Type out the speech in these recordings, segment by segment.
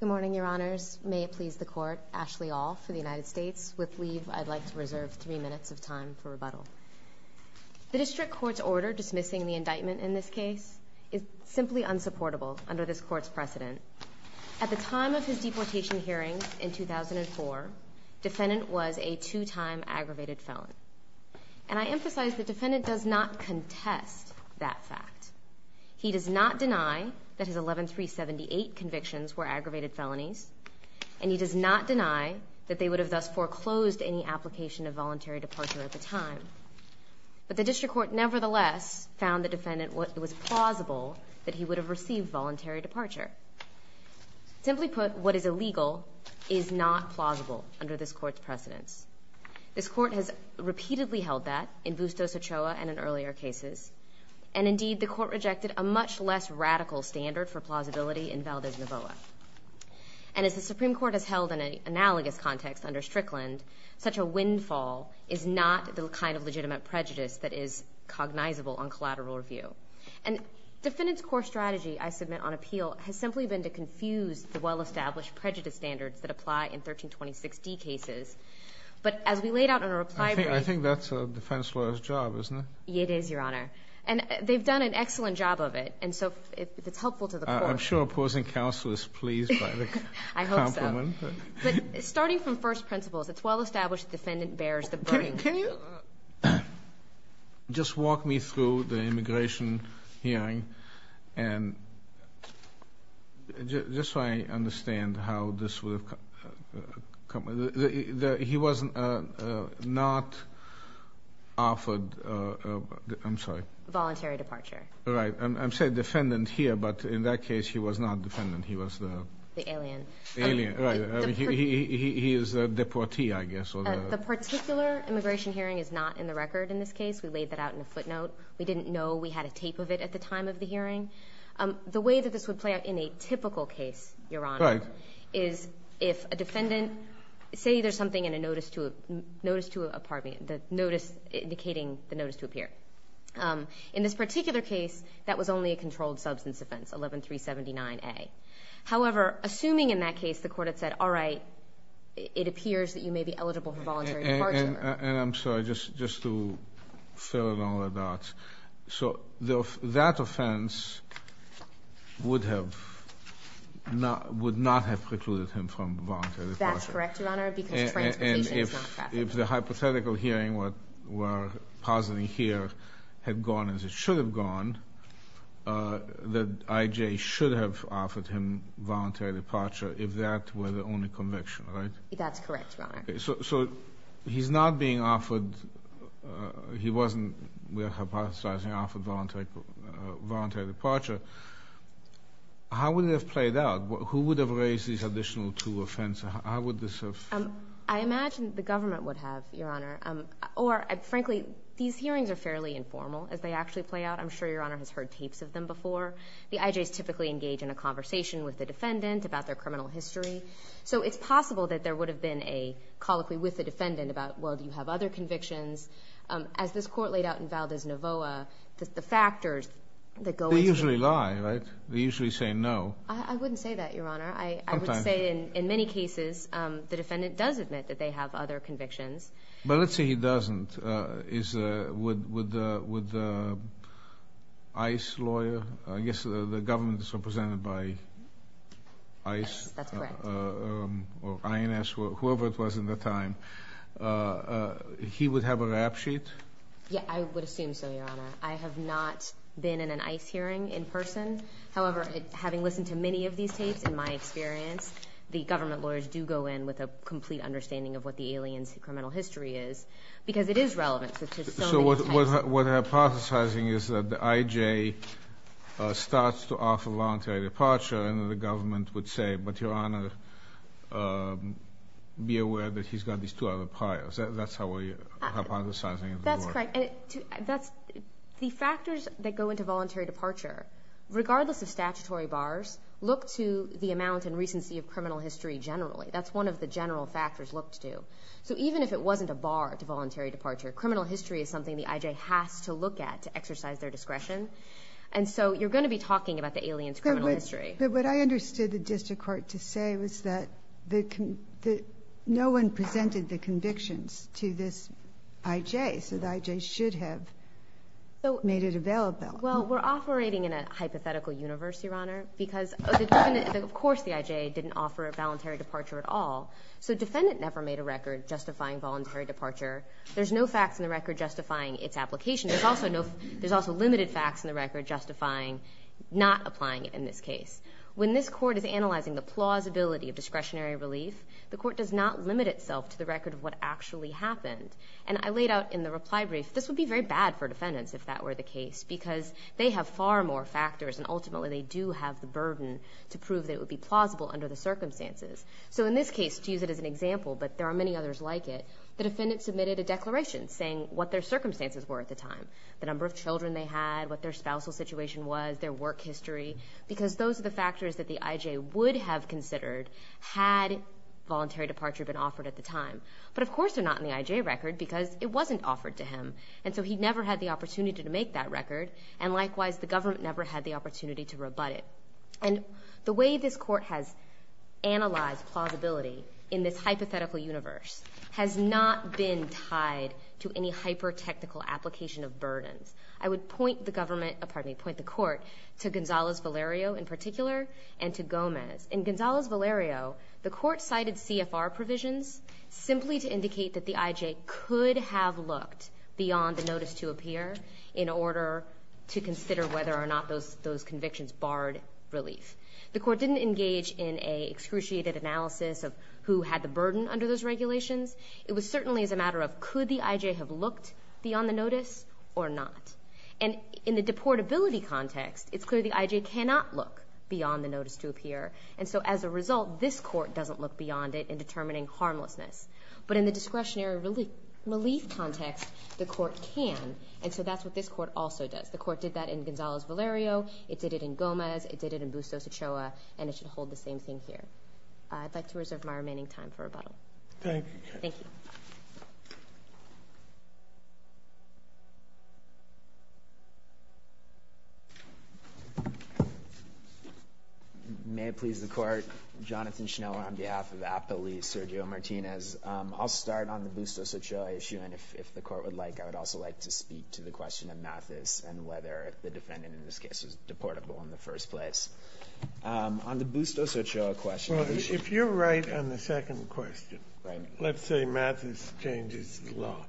Good morning, your honors. May it please the court, Ashley Aul for the United States. With leave, I'd like to reserve three minutes of time for rebuttal. The district court's order dismissing the indictment in this case is simply unsupportable under this court's precedent. At the time of his deportation hearings in 2004, defendant was a two-time aggravated felon. And I emphasize the defendant does not contest that fact. He does not deny that his 11378 convictions were aggravated felonies, and he does not deny that they would have thus foreclosed any application of voluntary departure at the time. But the district court nevertheless found the defendant was plausible that he would have received voluntary departure. Simply put, what is illegal is not plausible under this court's precedence. This court has repeatedly held that in Bustos Ochoa and in earlier cases. And indeed, the court rejected a much less radical standard for plausibility in Valdez-Navoa. And as the Supreme Court has held in an analogous context under Strickland, such a windfall is not the kind of legitimate prejudice that is cognizable on collateral review. And defendant's core strategy, I submit on appeal, has simply been to confuse the well-established prejudice standards that apply in 1326D cases. But as we laid out in our reply brief. I think that's a defense lawyer's job, isn't it? It is, Your Honor. And they've done an excellent job of it. And so if it's helpful to the court. I'm sure opposing counsel is pleased by the compliment. I hope so. But starting from first principles, it's well-established the defendant bears the burden. Can you just walk me through the immigration hearing? And just so I understand how this would have come. He was not offered. I'm sorry. Voluntary departure. Right. I'm saying defendant here. But in that case, he was not defendant. He was the. The alien. Alien. Right. He is a deportee, I guess. The particular immigration hearing is not in the record in this case. We laid that out in a footnote. We didn't know we had a tape of it at the time of the hearing. The way that this would play out in a typical case, Your Honor. Right. Is if a defendant. Say there's something in a notice to a. Notice to a. Pardon me. Notice indicating the notice to appear. In this particular case, that was only a controlled substance offense. 11379A. However, assuming in that case the court had said. All right. It appears that you may be eligible for voluntary departure. And I'm sorry. Just to fill in all the dots. So that offense would have. Would not have precluded him from voluntary departure. That's correct, Your Honor. Because transportation is not traffic. And if the hypothetical hearing were positive here. Had gone as it should have gone. That IJ should have offered him voluntary departure. If that were the only conviction. That's correct, Your Honor. So he's not being offered. He wasn't hypothesizing offered voluntary departure. How would it have played out? Who would have raised these additional two offenses? How would this have. I imagine the government would have, Your Honor. Or frankly, these hearings are fairly informal. As they actually play out. I'm sure Your Honor has heard tapes of them before. The IJs typically engage in a conversation with the defendant. About their criminal history. So it's possible that there would have been a colloquy with the defendant. About, well, do you have other convictions? As this court laid out in Valdez-Novoa. The factors that go into it. They usually lie, right? They usually say no. I wouldn't say that, Your Honor. Sometimes. I would say in many cases. The defendant does admit that they have other convictions. But let's say he doesn't. Would the ICE lawyer. I guess the government is represented by ICE. That's correct. Or INS. Whoever it was in the time. He would have a rap sheet? Yeah, I would assume so, Your Honor. I have not been in an ICE hearing in person. However, having listened to many of these tapes. In my experience. The government lawyers do go in with a complete understanding. Of what the alien's criminal history is. Because it is relevant. So what I'm hypothesizing is that the IJ. Starts to offer voluntary departure. And the government would say. But Your Honor. Be aware that he's got these two other priors. That's how we're hypothesizing. That's correct. The factors that go into voluntary departure. Regardless of statutory bars. Look to the amount and recency of criminal history generally. That's one of the general factors looked to. So even if it wasn't a bar to voluntary departure. Criminal history is something the IJ has to look at. To exercise their discretion. And so you're going to be talking about the alien's criminal history. But what I understood the district court to say. Was that no one presented the convictions to this IJ. So the IJ should have made it available. Well we're operating in a hypothetical universe. Your Honor. Because of course the IJ didn't offer a voluntary departure at all. So defendant never made a record justifying voluntary departure. There's no facts in the record justifying its application. There's also limited facts in the record. Justifying not applying it in this case. When this court is analyzing the plausibility of discretionary relief. The court does not limit itself to the record of what actually happened. And I laid out in the reply brief. This would be very bad for defendants if that were the case. Because they have far more factors. And ultimately they do have the burden. To prove that it would be plausible under the circumstances. So in this case to use it as an example. But there are many others like it. The defendant submitted a declaration. Saying what their circumstances were at the time. The number of children they had. What their spousal situation was. Their work history. Because those are the factors that the IJ would have considered. Had voluntary departure been offered at the time. But of course they're not in the IJ record. Because it wasn't offered to him. And so he never had the opportunity to make that record. And likewise the government never had the opportunity to rebut it. And the way this court has analyzed plausibility. In this hypothetical universe. Has not been tied to any hyper technical application of burdens. I would point the court to Gonzalez Valerio in particular. And to Gomez. In Gonzalez Valerio the court cited CFR provisions. Simply to indicate that the IJ could have looked beyond the notice to appear. In order to consider whether or not those convictions barred relief. The court didn't engage in a excruciated analysis of who had the burden under those regulations. It was certainly as a matter of could the IJ have looked beyond the notice or not. And in the deportability context it's clear the IJ cannot look beyond the notice to appear. And so as a result this court doesn't look beyond it in determining harmlessness. But in the discretionary relief context the court can. And so that's what this court also does. The court did that in Gonzalez Valerio. It did it in Gomez. It did it in Bustos Ochoa. And it should hold the same thing here. I'd like to reserve my remaining time for rebuttal. Thank you. Thank you. May it please the Court. Jonathan Schneller on behalf of APA Lee, Sergio Martinez. I'll start on the Bustos Ochoa issue. And if the Court would like, I would also like to speak to the question of Mathis and whether the defendant in this case was deportable in the first place. On the Bustos Ochoa question. If you're right on the second question, let's say Mathis changes the law.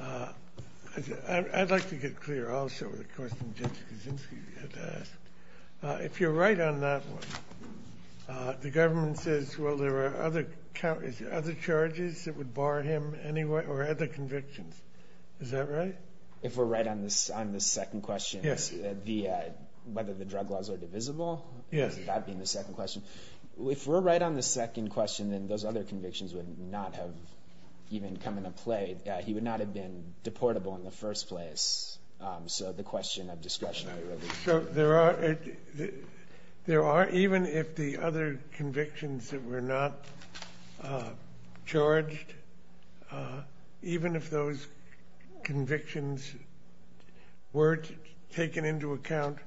I'd like to get clear also with the question Judge Kaczynski had asked. If you're right on that one, the government says, well, there are other charges that would bar him anyway or other convictions. Is that right? If we're right on the second question, whether the drug laws are divisible, that being the second question. If we're right on the second question, then those other convictions would not have even come into play. He would not have been deportable in the first place. So the question of discretionary relief. So there are, even if the other convictions that were not charged, even if those convictions weren't taken into account,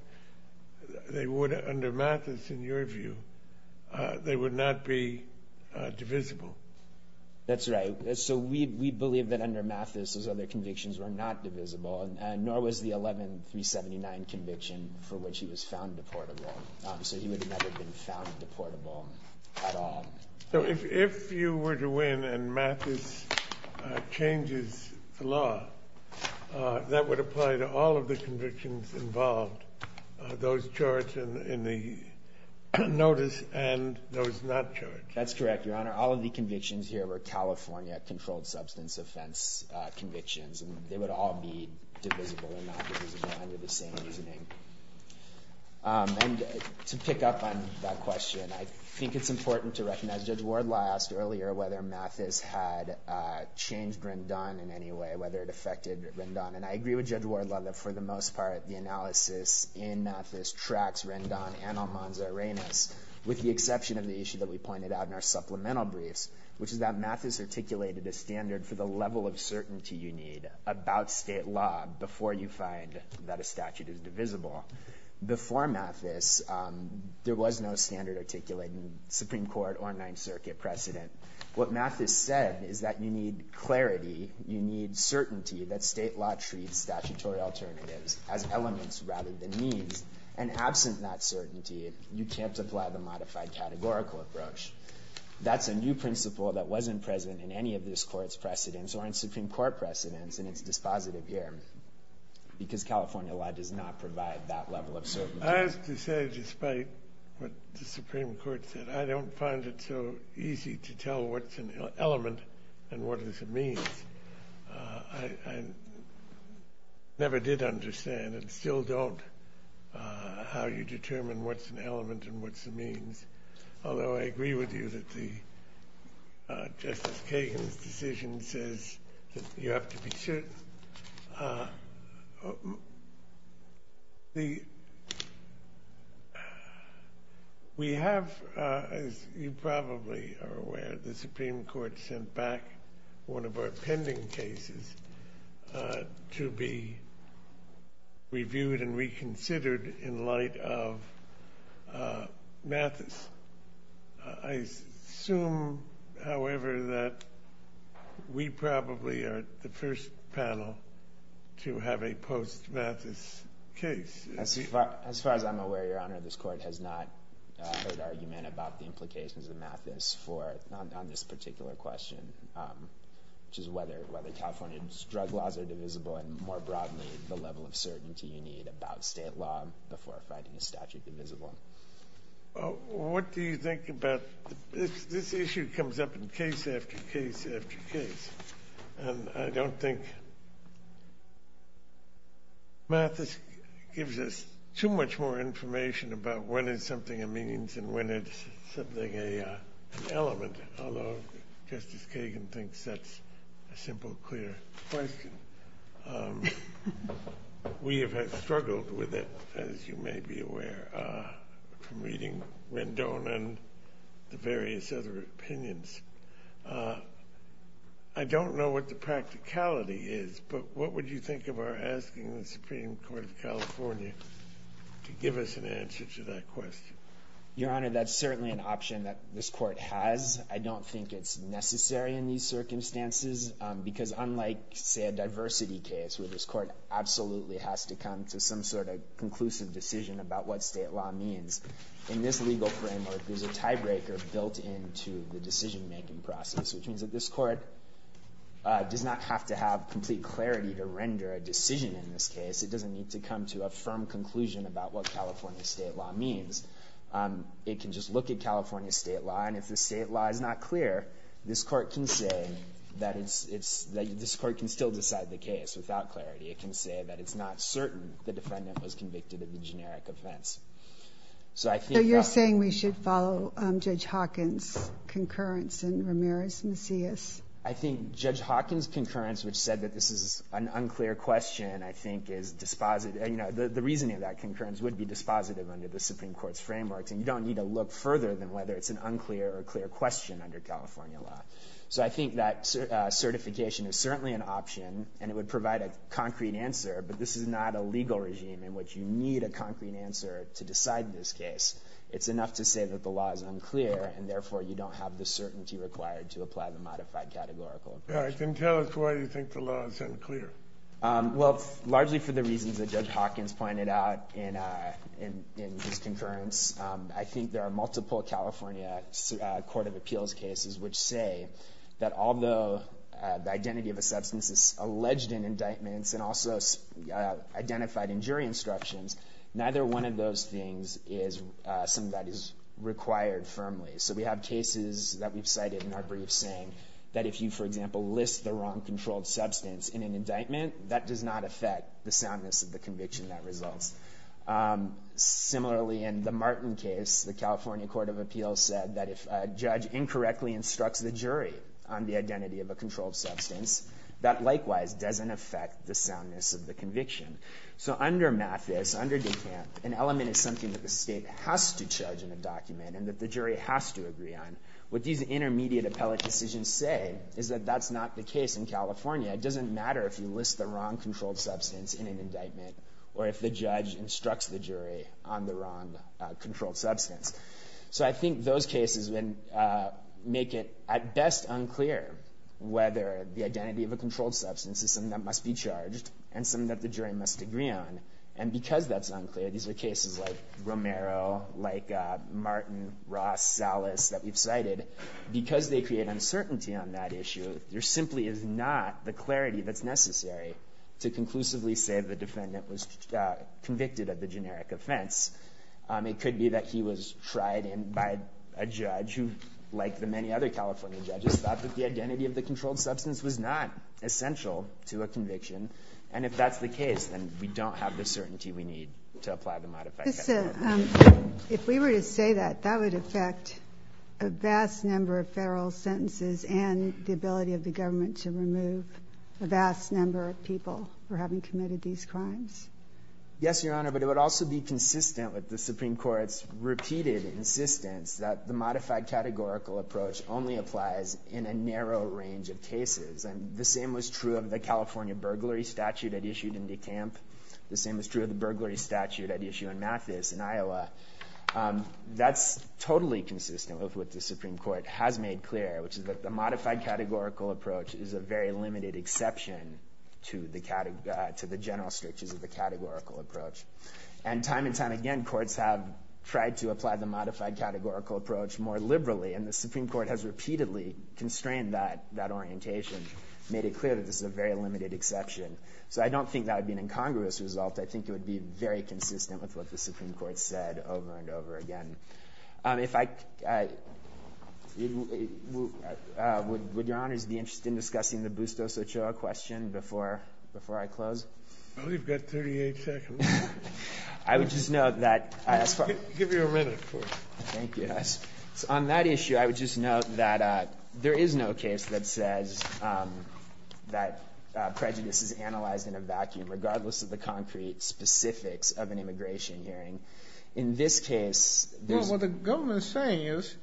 they would, under Mathis, in your view, they would not be divisible. That's right. So we believe that under Mathis those other convictions were not divisible, nor was the 11-379 conviction for which he was found deportable. So he would have never been found deportable at all. So if you were to win and Mathis changes the law, that would apply to all of the convictions involved, those charged in the notice and those not charged. That's correct, Your Honor. All of the convictions here were California controlled substance offense convictions, and they would all be divisible or not divisible under the same reasoning. And to pick up on that question, I think it's important to recognize Judge Wardlaw asked earlier whether Mathis had changed Rendon in any way, whether it affected Rendon. And I agree with Judge Wardlaw that for the most part the analysis in Mathis tracks Rendon and Almanza-Reynos, with the exception of the issue that we pointed out in our supplemental briefs, which is that Mathis articulated a standard for the level of certainty you need about state law before you find that a statute is divisible. Before Mathis, there was no standard articulated in Supreme Court or Ninth Circuit precedent. What Mathis said is that you need clarity, you need certainty that state law treats statutory alternatives as elements rather than means. And absent that certainty, you can't apply the modified categorical approach. That's a new principle that wasn't present in any of this court's precedents or in Supreme Court precedents in its dispositive year, because California law does not provide that level of certainty. I have to say, despite what the Supreme Court said, I don't find it so easy to tell what's an element and what is a means. I never did understand and still don't how you determine what's an element and what's a means. Although I agree with you that Justice Kagan's decision says that you have to be certain. We have, as you probably are aware, the Supreme Court sent back one of our pending cases to be reviewed and reconsidered in light of Mathis. I assume, however, that we probably are the first panel to have a post-Mathis case. As far as I'm aware, Your Honor, this court has not heard argument about the implications of Mathis on this particular question, which is whether California's drug laws are divisible and, more broadly, the level of certainty you need about state law before finding a statute divisible. This issue comes up in case after case after case. I don't think Mathis gives us too much more information about what is something a means and when it's something an element, although Justice Kagan thinks that's a simple, clear question. We have struggled with it, as you may be aware, from reading Rendon and the various other opinions. I don't know what the practicality is, but what would you think of our asking the Supreme Court of California to give us an answer to that question? Your Honor, that's certainly an option that this court has. I don't think it's necessary in these circumstances, because unlike, say, a diversity case, where this court absolutely has to come to some sort of conclusive decision about what state law means, in this legal framework, there's a tiebreaker built into the decision-making process, which means that this court does not have to have complete clarity to render a decision in this case. It doesn't need to come to a firm conclusion about what California state law means. It can just look at California state law, and if the state law is not clear, this court can still decide the case without clarity. It can say that it's not certain the defendant was convicted of the generic offense. So you're saying we should follow Judge Hawkins' concurrence and Ramirez-Macias? I think Judge Hawkins' concurrence, which said that this is an unclear question, I think is dispositive. You know, the reasoning of that concurrence would be dispositive under the Supreme Court's frameworks, and you don't need to look further than whether it's an unclear or clear question under California law. So I think that certification is certainly an option, and it would provide a concrete answer, but this is not a legal regime in which you need a concrete answer to decide this case. It's enough to say that the law is unclear, and therefore you don't have the certainty required to apply the modified categorical approach. Yeah, and tell us why you think the law is unclear. Well, largely for the reasons that Judge Hawkins pointed out in his concurrence. I think there are multiple California court of appeals cases which say that although the identity of a substance is alleged in indictments and also identified in jury instructions, neither one of those things is something that is required firmly. So we have cases that we've cited in our briefs saying that if you, for example, list the wrong controlled substance in an indictment, that does not affect the soundness of the conviction that results. Similarly, in the Martin case, the California court of appeals said that if a judge incorrectly instructs the jury on the identity of a controlled substance, that likewise doesn't affect the soundness of the conviction. So under Mathis, under Decant, an element is something that the state has to judge in a document and that the jury has to agree on. What these intermediate appellate decisions say is that that's not the case in California. It doesn't matter if you list the wrong controlled substance in an indictment or if the judge instructs the jury on the wrong controlled substance. So I think those cases make it at best unclear whether the identity of a controlled substance is something that must be charged and something that the jury must agree on. And because that's unclear, these are cases like Romero, like Martin, Ross, Salas that we've cited. Because they create uncertainty on that issue, there simply is not the clarity that's necessary to conclusively say the defendant was convicted of the generic offense. It could be that he was tried by a judge who, like the many other California judges, thought that the identity of the controlled substance was not essential to a conviction. And if that's the case, then we don't have the certainty we need to apply the modified statute. If we were to say that, that would affect a vast number of federal sentences and the ability of the government to remove a vast number of people for having committed these crimes. Yes, Your Honor, but it would also be consistent with the Supreme Court's repeated insistence that the modified categorical approach only applies in a narrow range of cases. And the same was true of the California burglary statute that issued in Dekamp. The same was true of the burglary statute at issue in Mathis in Iowa. That's totally consistent with what the Supreme Court has made clear, which is that the modified categorical approach is a very limited exception to the general strictures of the categorical approach. And time and time again, courts have tried to apply the modified categorical approach more liberally, and the Supreme Court has repeatedly constrained that orientation, made it clear that this is a very limited exception. So I don't think that would be an incongruous result. I think it would be very consistent with what the Supreme Court said over and over again. Would Your Honor be interested in discussing the Bustos-Ochoa question before I close? Well, you've got 38 seconds. I would just note that— Give you a minute. Thank you. On that issue, I would just note that there is no case that says that prejudice is analyzed in a vacuum, regardless of the concrete specifics of an immigration hearing. In this case, there's— Well, what the government is saying is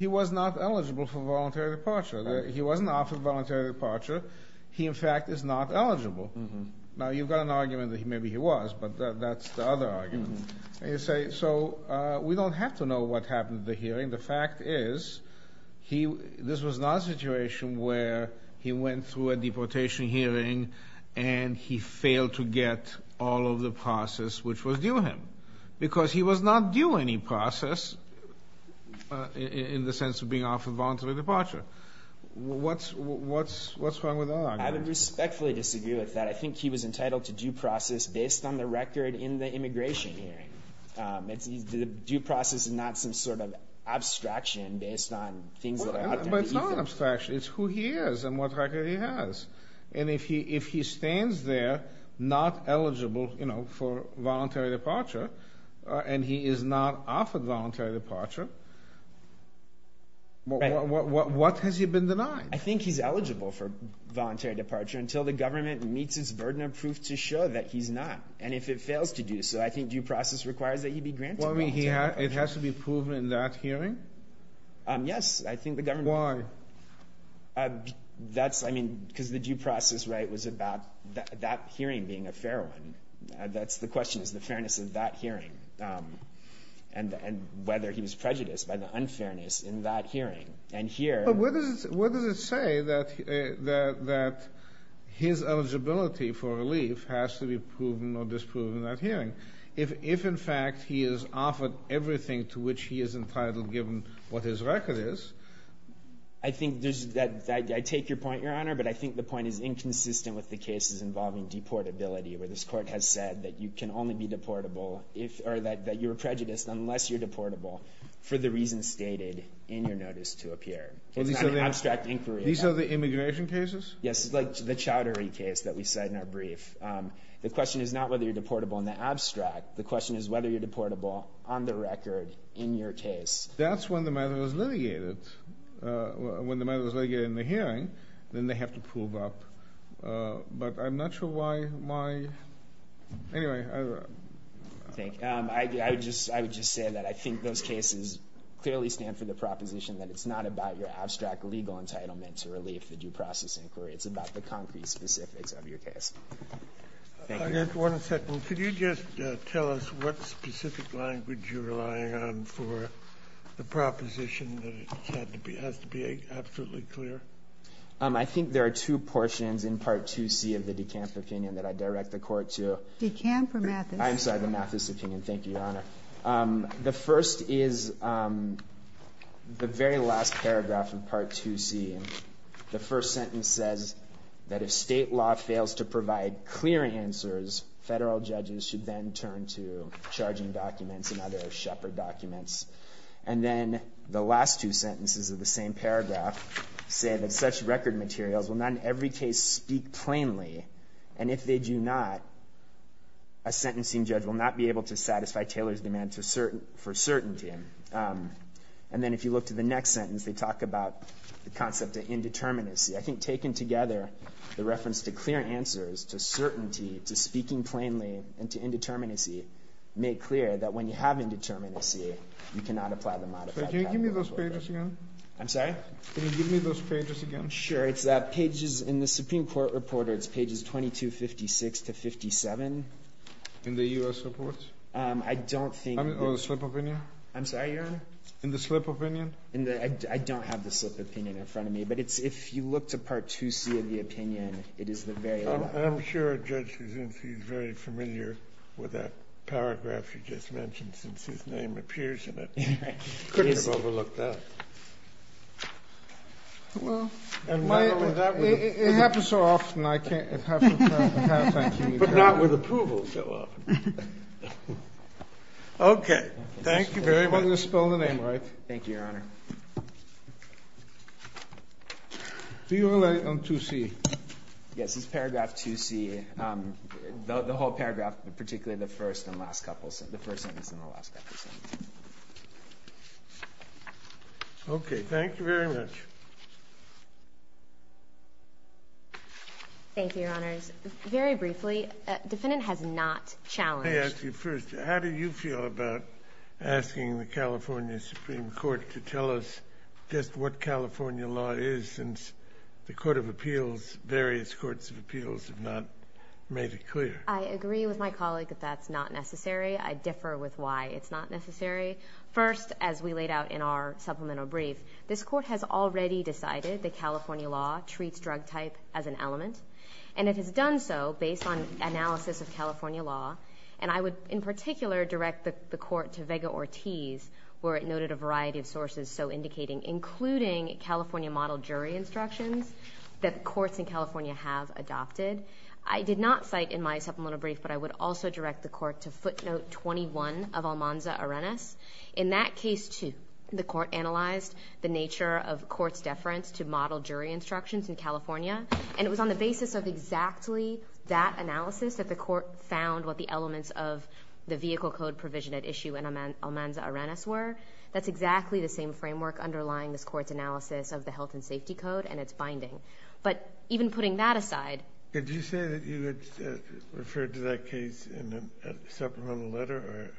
he was not eligible for voluntary departure. He wasn't offered voluntary departure. He, in fact, is not eligible. Now, you've got an argument that maybe he was, but that's the other argument. And you say, so we don't have to know what happened at the hearing. The fact is this was not a situation where he went through a deportation hearing and he failed to get all of the process which was due him because he was not due any process in the sense of being offered voluntary departure. What's wrong with that argument? I would respectfully disagree with that. I think he was entitled to due process based on the record in the immigration hearing. The due process is not some sort of abstraction based on things that are out there. But it's not an abstraction. It's who he is and what record he has. And if he stands there not eligible for voluntary departure and he is not offered voluntary departure, what has he been denied? I think he's eligible for voluntary departure until the government meets its burden of proof to show that he's not. And if it fails to do so, I think due process requires that he be granted voluntary departure. It has to be proven in that hearing? Yes, I think the government— Why? Because the due process was about that hearing being a fair one. The question is the fairness of that hearing and whether he was prejudiced by the unfairness in that hearing. Where does it say that his eligibility for relief has to be proven or disproven in that hearing? If, in fact, he is offered everything to which he is entitled given what his record is, I think there's—I take your point, Your Honor, but I think the point is inconsistent with the cases involving deportability where this court has said that you can only be deportable or that you're prejudiced unless you're deportable for the reasons stated in your notice to appear. It's not an abstract inquiry. These are the immigration cases? Yes, like the chowdery case that we cite in our brief. The question is not whether you're deportable in the abstract. The question is whether you're deportable on the record in your case. That's when the matter is litigated. When the matter is litigated in the hearing, then they have to prove up. But I'm not sure why—anyway. I would just say that I think those cases clearly stand for the proposition that it's not about your abstract legal entitlement to relief, the due process inquiry. It's about the concrete specifics of your case. One second. Well, could you just tell us what specific language you're relying on for the proposition that it has to be absolutely clear? I think there are two portions in Part 2C of the DeCamp opinion that I direct the Court to. DeCamp or Mathis? I'm sorry, the Mathis opinion. Thank you, Your Honor. The first is the very last paragraph of Part 2C. The first sentence says that if state law fails to provide clear answers, federal judges should then turn to charging documents and other shepherd documents. And then the last two sentences of the same paragraph say that such record materials will not in every case speak plainly, and if they do not, a sentencing judge will not be able to satisfy Taylor's demand for certainty. And then if you look to the next sentence, they talk about the concept of indeterminacy. I think taken together, the reference to clear answers, to certainty, to speaking plainly, and to indeterminacy make clear that when you have indeterminacy, you cannot apply the modified capital order. Can you give me those pages again? I'm sorry? Can you give me those pages again? Sure. It's pages in the Supreme Court Reporter. It's pages 2256 to 57. In the U.S. report? I don't think that's... Or the slip of opinion? I'm sorry, Your Honor? In the slip of opinion? I don't have the slip of opinion in front of me, but if you look to Part 2C of the opinion, it is the very... I'm sure Judge Kuzinski is very familiar with that paragraph you just mentioned, since his name appears in it. I couldn't have overlooked that. Well, it happens so often, I can't... But not with approval so often. Okay. Thank you very much. You're going to spell the name right? Thank you, Your Honor. Do you relate on 2C? Yes. It's paragraph 2C. The whole paragraph, particularly the first and last couple sentences, the first sentence and the last couple sentences. Okay. Thank you very much. Thank you, Your Honors. Very briefly, defendant has not challenged... Let me ask you first, how do you feel about asking the California Supreme Court to tell us just what California law is since the Court of Appeals, various courts of appeals have not made it clear? I agree with my colleague that that's not necessary. I differ with why it's not necessary. First, as we laid out in our supplemental brief, this court has already decided that California law treats drug type as an element, and it has done so based on analysis of California law. And I would, in particular, direct the court to Vega-Ortiz, where it noted a variety of sources so indicating, including California model jury instructions that courts in California have adopted. I did not cite in my supplemental brief, but I would also direct the court to footnote 21 of Almanza-Arenas. In that case, too, the court analyzed the nature of court's deference to model jury instructions in California, and it was on the basis of exactly that analysis that the court found what the elements of the vehicle code provision at issue in Almanza-Arenas were. That's exactly the same framework underlying this court's analysis of the health and safety code and its binding. But even putting that aside... Did you say that you had referred to that case in a supplemental letter?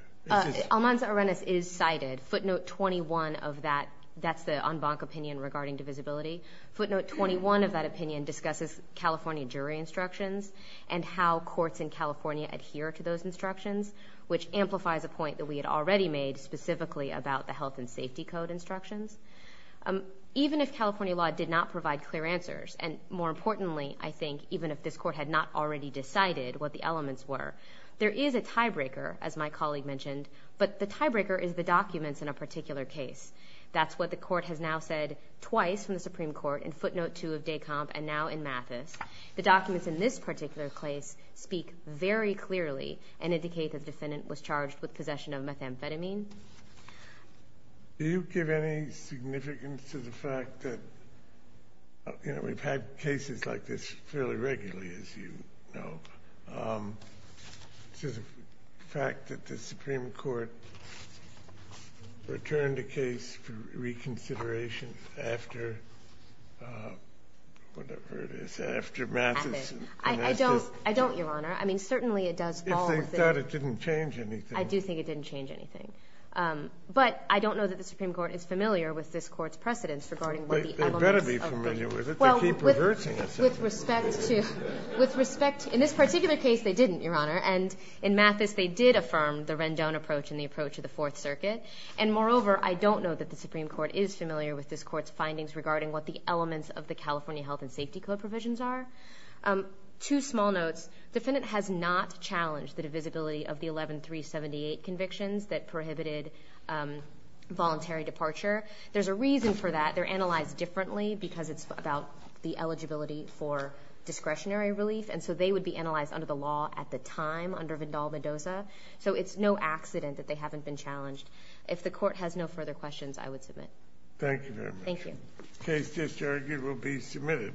Almanza-Arenas is cited. Footnote 21 of that, that's the en banc opinion regarding divisibility. Footnote 21 of that opinion discusses California jury instructions and how courts in California adhere to those instructions, which amplifies a point that we had already made specifically about the health and safety code instructions. Even if California law did not provide clear answers, and more importantly, I think, even if this court had not already decided what the elements were, there is a tiebreaker, as my colleague mentioned, but the tiebreaker is the documents in a particular case. That's what the court has now said twice from the Supreme Court in footnote 2 of Descomp and now in Mathis. The documents in this particular case speak very clearly and indicate that the defendant was charged with possession of methamphetamine. Do you give any significance to the fact that... You know, we've had cases like this fairly regularly, as you know. The fact that the Supreme Court returned a case for reconsideration after whatever it is, after Mathis. I don't, Your Honor. I mean, certainly it does fall within... If they thought it didn't change anything. I do think it didn't change anything. But I don't know that the Supreme Court is familiar with this Court's precedence regarding what the elements of the... They better be familiar with it. They keep reverting us. With respect to... In this particular case, they didn't, Your Honor. And in Mathis, they did affirm the Rendon approach and the approach of the Fourth Circuit. And moreover, I don't know that the Supreme Court is familiar with this Court's findings regarding what the elements of the California Health and Safety Code provisions are. Two small notes. The defendant has not challenged the divisibility of the 11378 convictions that prohibited voluntary departure. There's a reason for that. They're analyzed differently because it's about the eligibility for discretionary relief. And so they would be analyzed under the law at the time, under Vindal-Mendoza. So it's no accident that they haven't been challenged. If the Court has no further questions, I would submit. Thank you very much. Thank you. The case just argued will be submitted.